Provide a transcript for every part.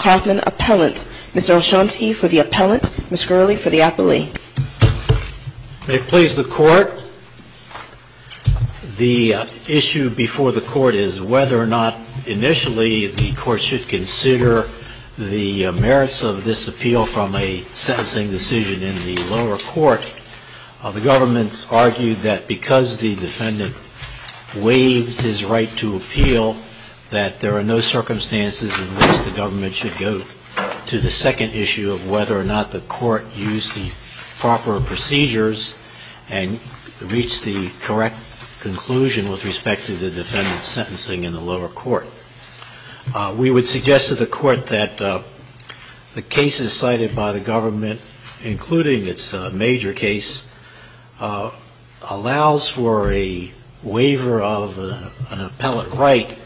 Appellant. Mr. Olshansky for the Appellant. Ms. Gurley for the Appellee. May it please the Court, the issue before the Court is whether or not initially the Court should consider the merits of this appeal from a sentencing decision in the lower court. The government's argued that because the defendant waived his right to appeal that there are no circumstances in which the government should go to the second issue of whether or not the court used the proper procedures and reached the correct conclusion with respect to the defendant's sentencing in the lower court. We would suggest to the Court that the cases cited by the government, including its major case, allows for a waiver of an appellate right,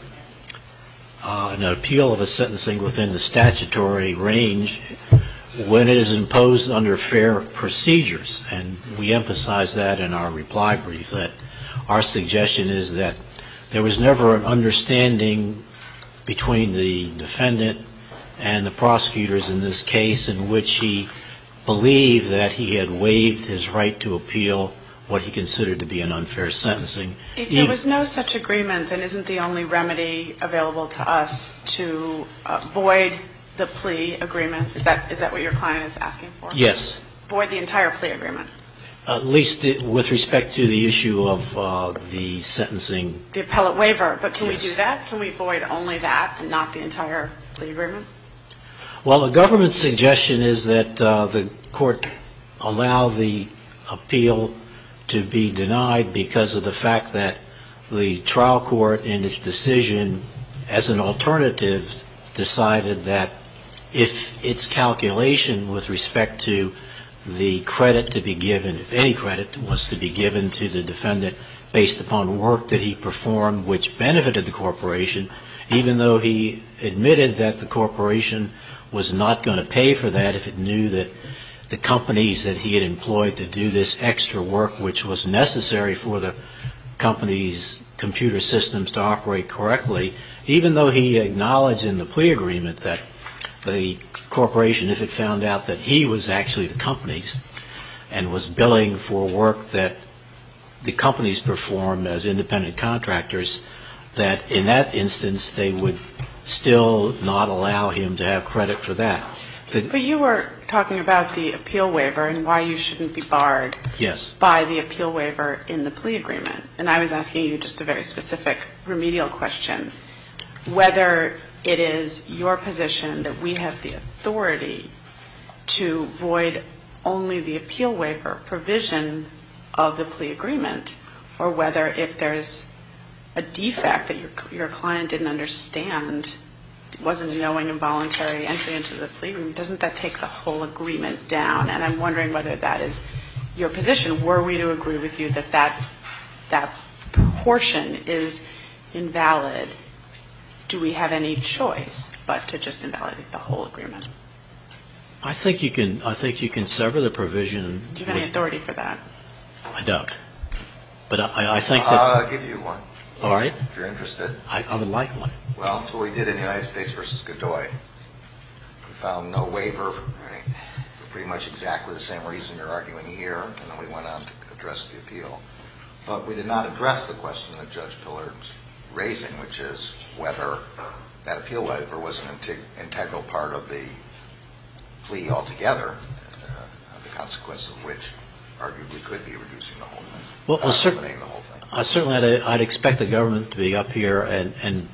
an appeal of a sentencing within the statutory range, when it is imposed under fair procedures. And we emphasize that in our reply brief, that our suggestion is that there was never an understanding between the defendant and the prosecutors in this case in which he believed that he had waived his right to appeal what he considered to be an unfair sentencing. If there was no such agreement, then isn't the only remedy available to us to void the plea agreement? Is that what your client is asking for? Yes. Void the entire plea agreement? At least with respect to the issue of the sentencing. The appellate waiver. But can we do that? Can we void only that and not the entire plea agreement? Well, the government's suggestion is that the Court allow the appeal to be denied because of the fact that the trial court in its decision, as an alternative, decided that if its calculation with respect to the credit to be given, if any credit was to be given to the defendant based upon work that he performed, which benefited the corporation, even though he admitted that the corporation did not have the right to appeal, the court would allow the appeal to be denied. And if the corporation was not going to pay for that, if it knew that the companies that he had employed to do this extra work, which was necessary for the company's computer systems to operate correctly, even though he acknowledged in the plea agreement that the corporation, if it found out that he was actually the companies and was billing for work that the companies performed as independent contractors, that in that instance, they would still not allow him to appeal. They would not allow him to have credit for that. But you were talking about the appeal waiver and why you shouldn't be barred by the appeal waiver in the plea agreement. And I was asking you just a very specific remedial question, whether it is your position that we have the authority to void only the appeal waiver provision of the plea agreement, or whether if there's a defect that your client didn't understand, wasn't knowing involuntary entry into the plea agreement, doesn't that take the whole agreement down? And I'm wondering whether that is your position. Were we to agree with you that that proportion is invalid, do we have any choice but to just invalidate the whole agreement? I think you can sever the provision. Do you have any authority for that? I don't. But I think that... I'll give you one. All right. If you're interested. I would like one. Well, that's what we did in the United States v. Godoy. We filed no waiver for pretty much exactly the same reason you're arguing here, and then we went on to address the appeal. But we did not address the question that Judge Pillard was raising, which is whether that appeal waiver was an integral part of the plea altogether, the consequence of which arguably could be reducing the whole thing. Certainly I'd expect the government to be up here and...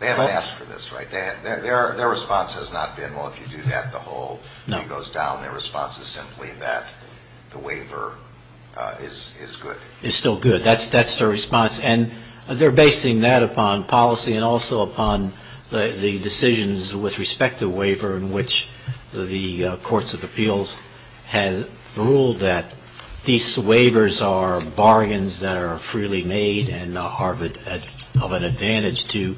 They haven't asked for this, right? Their response has not been, well, if you do that, the whole thing goes down. Their response is simply that the waiver is good. Is still good. That's their response. And they're basing that upon policy and also upon the decisions with respect to waiver in which the Courts of Appeals have ruled that these waivers are bargains that are freely made and are of an advantage to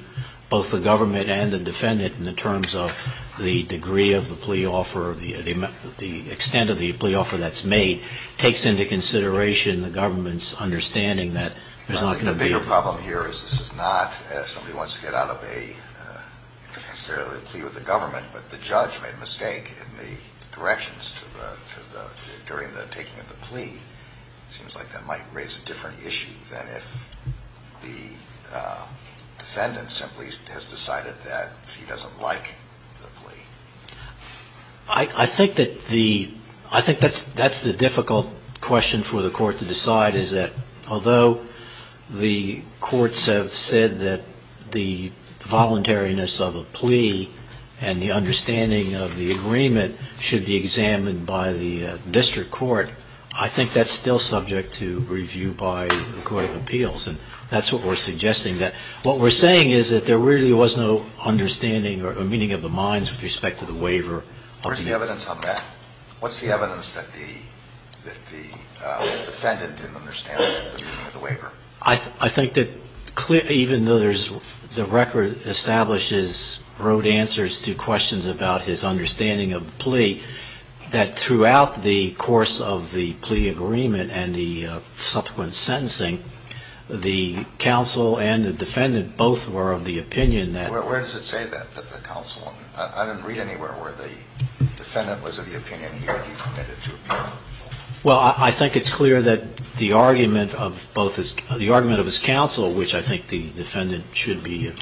both the government and the defendant in the terms of the degree of the plea offer, the extent of the plea offer that's made, takes into consideration the government's understanding that there's not going to be a waiver. The bigger problem here is this is not, if somebody wants to get out of a plea with the government, but the judge made a mistake in the directions during the taking of the plea, it seems like that might raise a different issue than if the defendant simply has decided that he doesn't like the plea. I think that's the difficult question for the Court to decide, is that although the Courts have said that the voluntariness of a plea and the understanding of the agreement should be examined by the district court, I think that's still subject to review by the Court of Appeals. And that's what we're suggesting, that what we're saying is that there really was no understanding or meaning of the minds with respect to the waiver. Where's the evidence on that? What's the evidence that the defendant didn't understand the meaning of the waiver? I think that even though the record establishes, wrote answers to questions about his understanding of the plea, that throughout the course of the plea agreement and the subsequent sentencing, the counsel and the defendant both were of the opinion that... Where does it say that, that the counsel? I didn't read anywhere where the defendant was of the opinion that he committed to appeal. Well, I think it's clear that the argument of his counsel, which I think the defendant should be...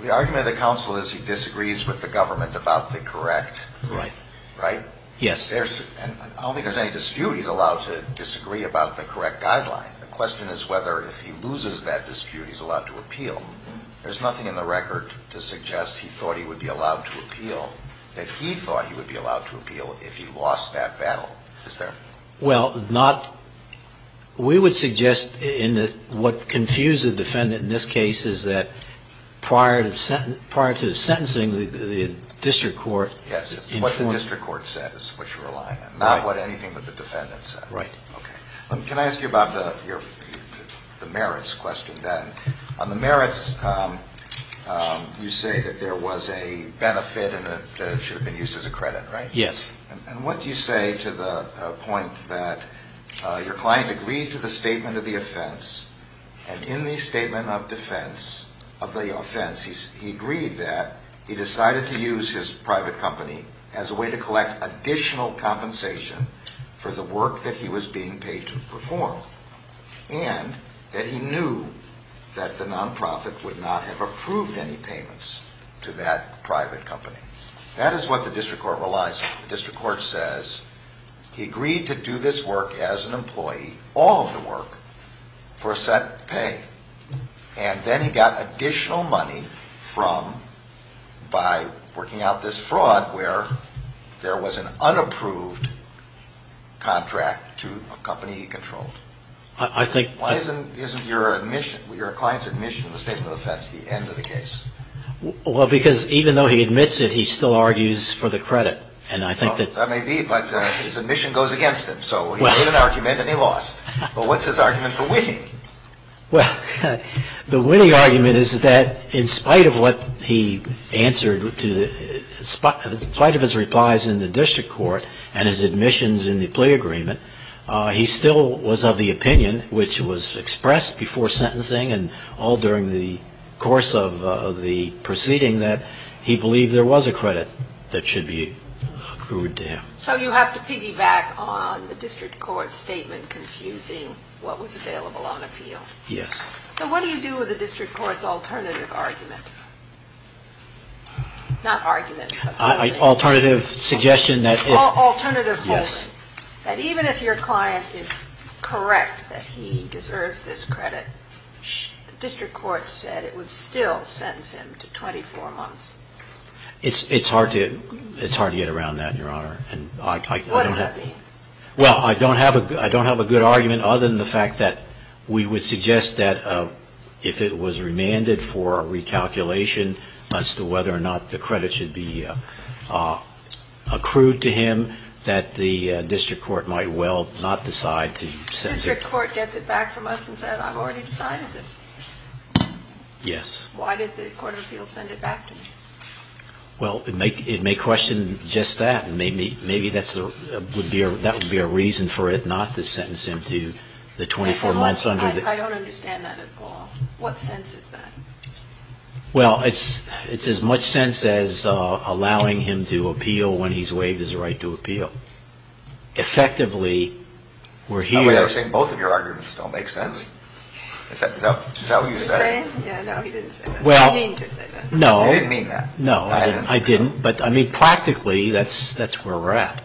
The argument of the counsel is he disagrees with the government about the correct... Right. Right? Yes. I don't think there's any dispute he's allowed to disagree about the correct guideline. The question is whether if he loses that dispute he's allowed to appeal. There's nothing in the record to suggest he thought he would be allowed to appeal that he thought he would be allowed to appeal if he lost that battle. Is there? Well, not... We would suggest in the... What confused the defendant in this case is that prior to the sentencing, the district court... Yes, it's what the district court said is what you're relying on. Not what anything that the defendant said. Right. Okay. Can I ask you about the merits question then? On the merits, you say that there was a benefit and it should have been used as a credit, right? Yes. And what do you say to the point that your client agreed to the statement of the offense and in the statement of defense of the offense he agreed that he decided to use his private company as a way to collect additional compensation for the work that he was being paid to perform and that he knew that the non-profit would not have approved any payments to that private company? That is what the district court relies on. The district court says he agreed to do this work as an employee, all of the work, for a set pay. And then he got additional money from, by working out this fraud where there was an unapproved contract to a company he controlled. I think... Why isn't your admission, your client's admission in the statement of offense the end of the case? Well, because even though he admits it, he still argues for the credit. And I think that... That may be, but his admission goes against him. So he made an argument and he lost. But what's his argument for winning? Well, the winning argument is that in spite of what he answered, in spite of his replies in the district court and his admissions in the plea agreement, he still was of the opinion, which was expressed before sentencing and all during the course of the proceeding, that he believed there was a credit that should be accrued to him. So you have to piggyback on the district court's statement confusing what was available on appeal. Yes. So what do you do with the district court's alternative argument? Not argument. Alternative suggestion that if... Alternative holding. That even if your client is correct that he deserves this credit, the district court said it would still sentence him to 24 months. It's hard to get around that, Your Honor. What does that mean? Well, I don't have a good argument other than the fact that we would suggest that if it was remanded for a recalculation as to whether or not the credit should be accrued to him, that the district court might well not decide to sentence him. The district court gets it back from us and says, I've already decided this. Yes. Why did the court of appeals send it back to me? Well, it may question just that. Maybe that would be a reason for it not to sentence him to the 24 months under the... I don't understand that at all. What sense is that? Well, it's as much sense as allowing him to appeal when he's waived his right to appeal. Effectively, we're here... I thought you were saying both of your arguments don't make sense. Is that what you said? Yeah, no, he didn't say that. Well, no. I didn't mean that. No, I didn't. But, I mean, practically, that's where we're at.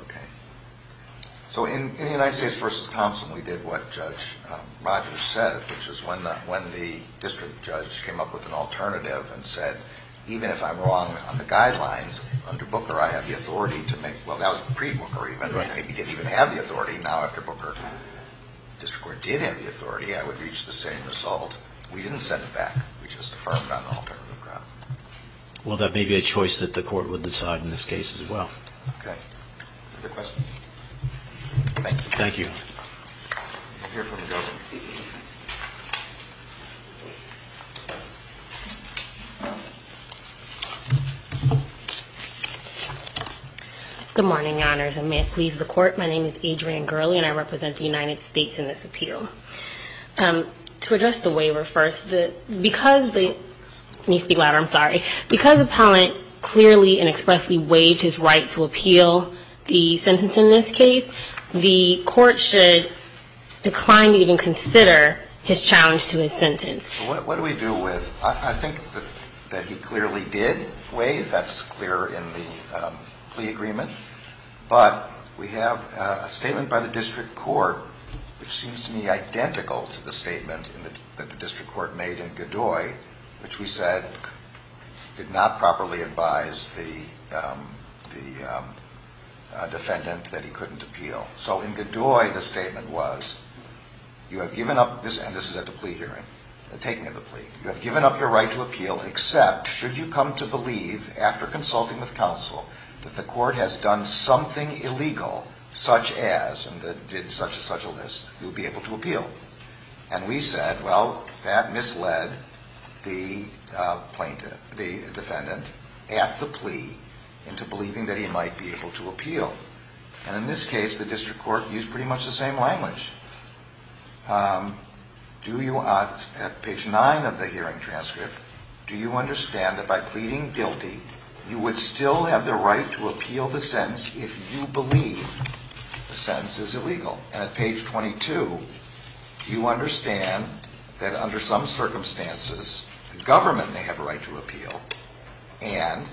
Okay. So, in the United States v. Thompson, we did what Judge Rogers said, which is when the district judge came up with an alternative and said, even if I'm wrong on the guidelines, under Booker, I have the authority to make... Well, that was pre-Booker even. Right. I didn't even have the authority. Now, after Booker, the district court did have the authority. I would reach the same result. We didn't send it back. We just affirmed on an alternative ground. Well, that may be a choice that the court would decide in this case as well. Okay. Other questions? Thank you. Thank you. We'll hear from the judge. Good morning, Your Honors, and may it please the Court. My name is Adrienne Gurley, and I represent the United States in this appeal. To address the waiver first, because the... Let me speak louder. I'm sorry. Because the appellant clearly and expressly waived his right to appeal the sentence in this case, the court should decline to even consider his challenge to his sentence. What do we do with... I think that he clearly did waive. That's clear in the plea agreement. But we have a statement by the district court, which seems to me identical to the statement that the district court made in Godoy, which we said did not properly advise the defendant that he couldn't appeal. So in Godoy, the statement was, you have given up... And this is at the plea hearing, the taking of the plea. You have given up your right to appeal, except should you come to believe, after consulting with counsel, that the court has done something illegal, such as, and did such and such a list, you will be able to appeal. And we said, well, that misled the defendant at the plea into believing that he might be able to appeal. And in this case, the district court used pretty much the same language. At page 9 of the hearing transcript, do you understand that by pleading guilty, you would still have the right to appeal the sentence if you believe the sentence is illegal? And at page 22, do you understand that under some circumstances, the government may have a right to appeal, and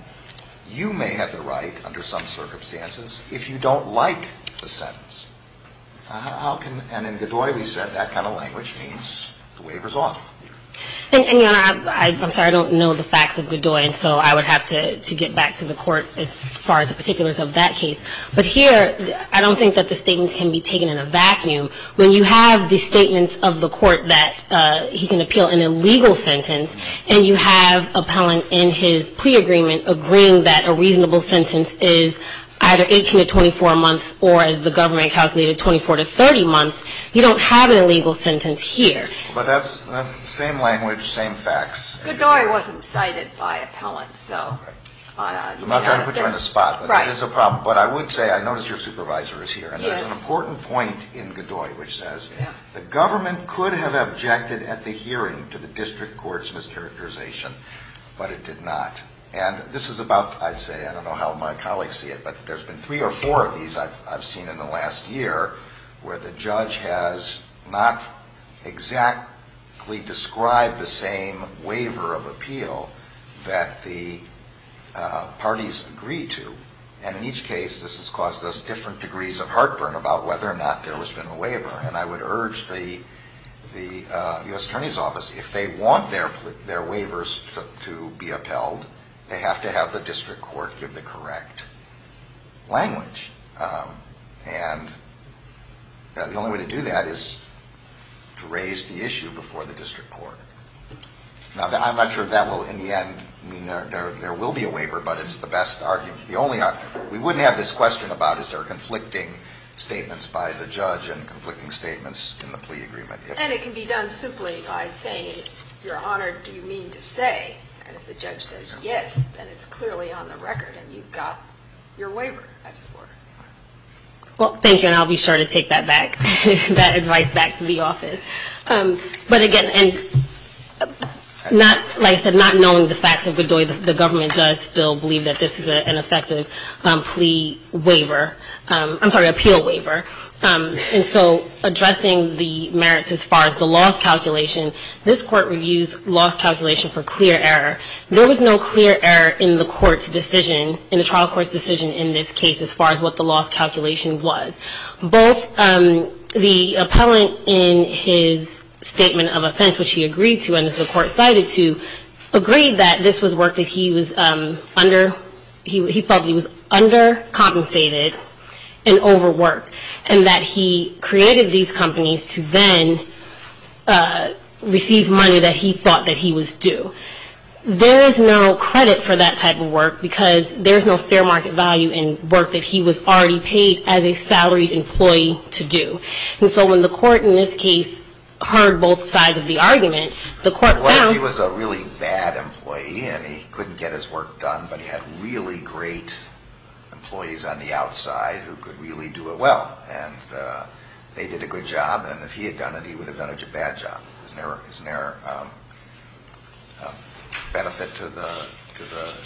you may have the right, under some circumstances, if you don't like the sentence? And in Godoy, we said that kind of language means the waiver's off. And, Your Honor, I'm sorry, I don't know the facts of Godoy, and so I would have to get back to the court as far as the particulars of that case. But here, I don't think that the statements can be taken in a vacuum. When you have the statements of the court that he can appeal an illegal sentence, and you have an appellant in his plea agreement agreeing that a reasonable sentence is either 18 to 24 months or, as the government calculated, 24 to 30 months, you don't have an illegal sentence here. But that's the same language, same facts. Godoy wasn't cited by appellants, so... I'm not trying to put you on the spot, but that is a problem. But I would say, I notice your supervisor is here, and there's an important point in Godoy which says, the government could have objected at the hearing to the district court's mischaracterization, but it did not. And this is about, I'd say, I don't know how my colleagues see it, but there's been three or four of these I've seen in the last year where the judge has not exactly described the same waiver of appeal that the parties agree to. And in each case, this has caused us different degrees of heartburn And I would urge the U.S. Attorney's Office, if they want their waivers to be upheld, they have to have the district court give the correct language. And the only way to do that is to raise the issue before the district court. Now, I'm not sure if that will, in the end, I mean, there will be a waiver, but it's the best argument. We wouldn't have this question about, is there conflicting statements by the judge and conflicting statements in the plea agreement. And it can be done simply by saying, Your Honor, do you mean to say, and if the judge says yes, then it's clearly on the record and you've got your waiver, as it were. Well, thank you, and I'll be sure to take that back, that advice back to the office. But again, like I said, not knowing the facts of Godoy, the government does still believe that this is an effective plea waiver. I'm sorry, appeal waiver. And so addressing the merits as far as the loss calculation, this court reviews loss calculation for clear error. There was no clear error in the trial court's decision in this case as far as what the loss calculation was. Both the appellant in his statement of offense, which he agreed to, and as the court cited to, agreed that this was work that he was under, he felt he was undercompensated and overworked, and that he created these companies to then receive money that he thought that he was due. There is no credit for that type of work, because there is no fair market value in work that he was already paid as a salaried employee to do. And so when the court in this case heard both sides of the argument, the court found... What if he was a really bad employee, and he couldn't get his work done, but he had really great employees on the outside who could really do it well, and they did a good job, and if he had done it, he would have done a bad job? Isn't there a benefit to the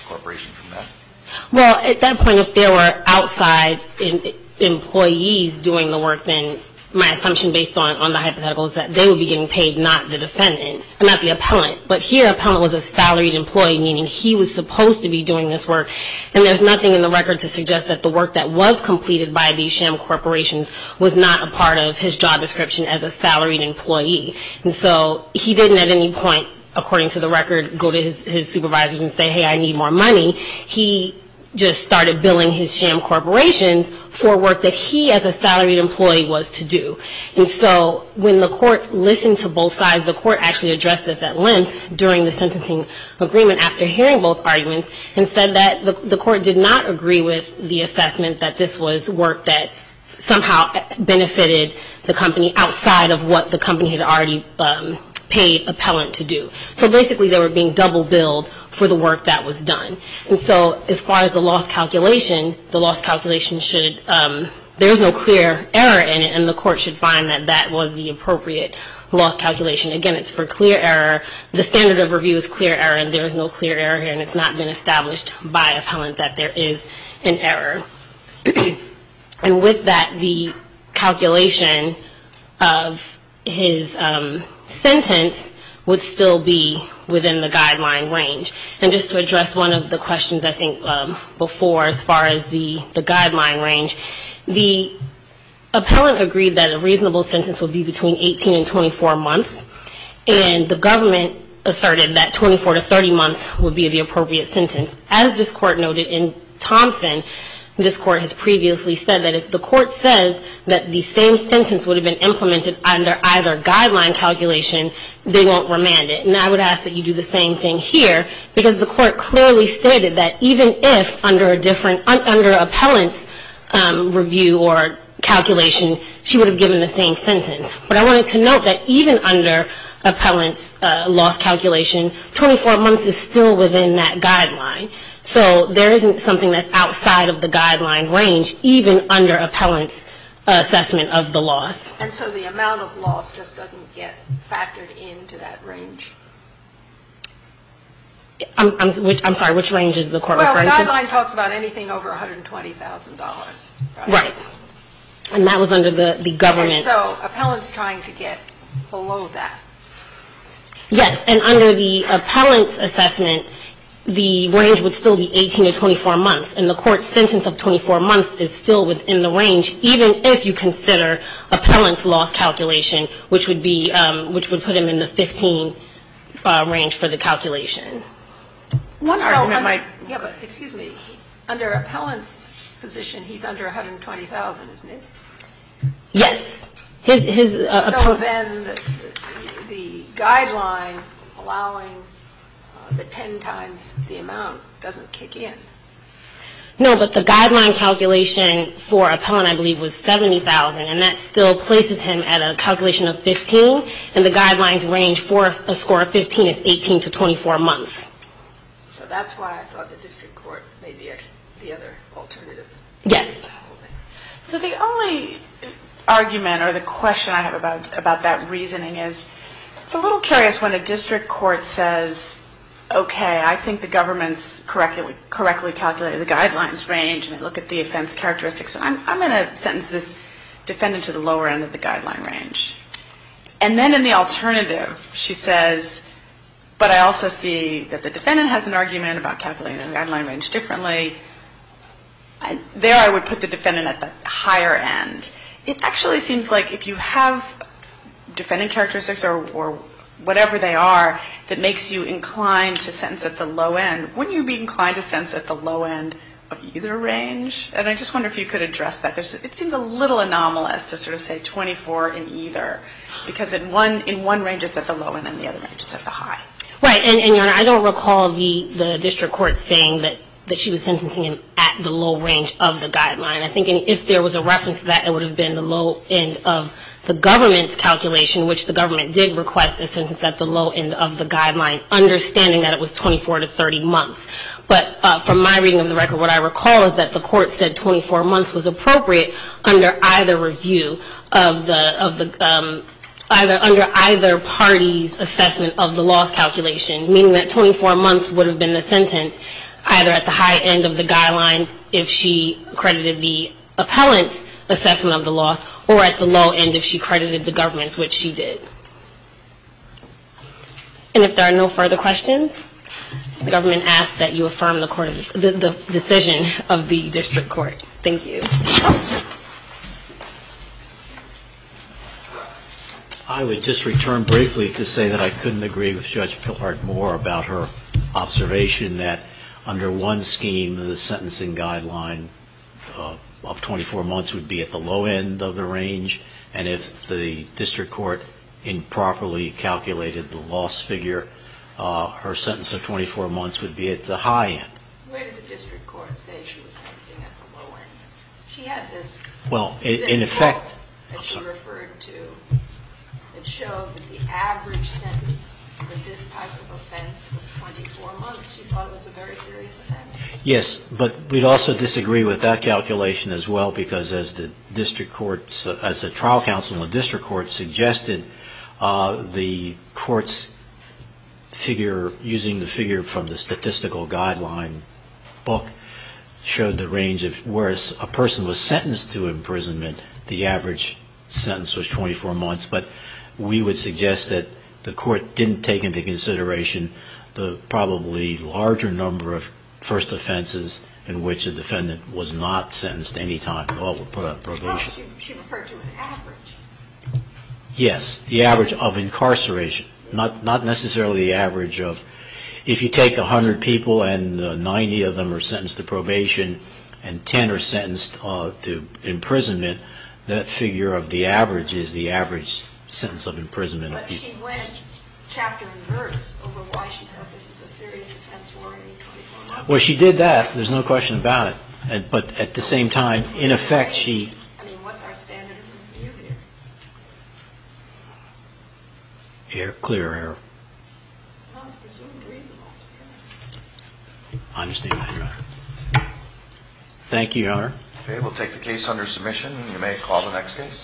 corporation from that? Well, at that point, if there were outside employees doing the work, then my assumption based on the hypothetical is that they would be getting paid, not the defendant, not the appellant, but here, appellant was a salaried employee, meaning he was supposed to be doing this work, and there's nothing in the record to suggest that the work that was completed by these sham corporations was not a part of his job description as a salaried employee. And so he didn't at any point, according to the record, go to his supervisors and say, hey, I need more money. He just started billing his sham corporations for work that he as a salaried employee was to do. And so when the court listened to both sides, the court actually addressed this at length during the sentencing agreement after hearing both arguments and said that the court did not agree with the assessment that this was work that somehow benefited the company outside of what the company had already paid appellant to do. So basically, they were being double billed for the work that was done. And so as far as the loss calculation, the loss calculation should, there's no clear error in it, and the court should find that that was the appropriate loss calculation. Again, it's for clear error. The standard of review is clear error, and there is no clear error here, and it's not been established by appellant that there is an error. And with that, the calculation of his sentence would still be within the guideline range. And just to address one of the questions I think before as far as the guideline range, the appellant agreed that a reasonable sentence would be between 18 and 24 months, and the government asserted that 24 to 30 months would be the appropriate sentence. As this court noted in Thompson, this court has previously said that if the court says that the same sentence would have been implemented under either guideline calculation, they won't remand it. And I would ask that you do the same thing here, because the court clearly stated that even if under appellant's review or calculation, she would have given the same sentence. But I wanted to note that even under appellant's loss calculation, 24 months is still within that guideline. So there isn't something that's outside of the guideline range, even under appellant's assessment of the loss. And so the amount of loss just doesn't get factored into that range? I'm sorry, which range is the court referring to? Well, the guideline talks about anything over $120,000. Right. And that was under the government. And so appellant's trying to get below that. Yes. And under the appellant's assessment, the range would still be 18 to 24 months. And the court's sentence of 24 months is still within the range, even if you consider appellant's loss calculation, which would put him in the 15 range for the calculation. Excuse me. Under appellant's position, he's under $120,000, isn't he? Yes. So then the guideline allowing the 10 times the amount doesn't kick in? No, but the guideline calculation for appellant, I believe, was $70,000, and that still places him at a calculation of 15, and the guidelines range for a score of 15 is 18 to 24 months. So that's why I thought the district court made the other alternative. Yes. So the only argument or the question I have about that reasoning is, it's a little curious when a district court says, okay, I think the government's correctly calculated the guidelines range, and I look at the offense characteristics, and I'm going to sentence this defendant to the lower end of the guideline range. And then in the alternative, she says, but I also see that the defendant has an argument about calculating the guideline range differently. There I would put the defendant at the higher end. It actually seems like if you have defendant characteristics or whatever they are that makes you inclined to sentence at the low end, wouldn't you be inclined to sentence at the low end of either range? And I just wonder if you could address that. It seems a little anomalous to sort of say 24 in either, because in one range it's at the low end and the other range it's at the high. Right. And, Your Honor, I don't recall the district court saying that she was sentencing him at the low range of the guideline. I think if there was a reference to that, it would have been the low end of the government's calculation, which the government did request a sentence at the low end of the guideline, understanding that it was 24 to 30 months. But from my reading of the record, what I recall is that the court said 24 months was appropriate under either review of the, under either party's assessment of the loss calculation, meaning that 24 months would have been the sentence either at the high end of the guideline if she credited the appellant's assessment of the loss or at the low end if she credited the government's, which she did. And if there are no further questions, the government asks that you affirm the decision of the district court. Thank you. I would just return briefly to say that I couldn't agree with Judge Pilhard more about her observation that under one scheme the sentencing guideline of 24 months would be at the low end of the range, and if the district court improperly calculated the loss figure, her sentence of 24 months would be at the high end. Where did the district court say she was sentencing at the low end? She had this quote that she referred to that showed that the average sentence for this type of offense was 24 months. She thought it was a very serious offense. Yes, but we'd also disagree with that calculation as well, because as the district court, as the trial counsel in the district court suggested, the court's figure, using the figure from the statistical guideline book, showed the range of where a person was sentenced to imprisonment, the average sentence was 24 months. But we would suggest that the court didn't take into consideration the probably larger number of first offenses in which a defendant was not sentenced any time at all to put up probation. She referred to an average. Yes, the average of incarceration, not necessarily the average of, if you take 100 people and 90 of them are sentenced to probation and 10 are sentenced to imprisonment, that figure of the average is the average sentence of imprisonment. But she went chapter and verse over why she thought this was a serious offense warranting 24 months. Well, she did that. There's no question about it. But at the same time, in effect, she... I mean, what's our standard of view there? Clear error. Well, it's presumed reasonable. I understand that, Your Honor. Thank you, Your Honor. Okay, we'll take the case under submission. You may call the next case.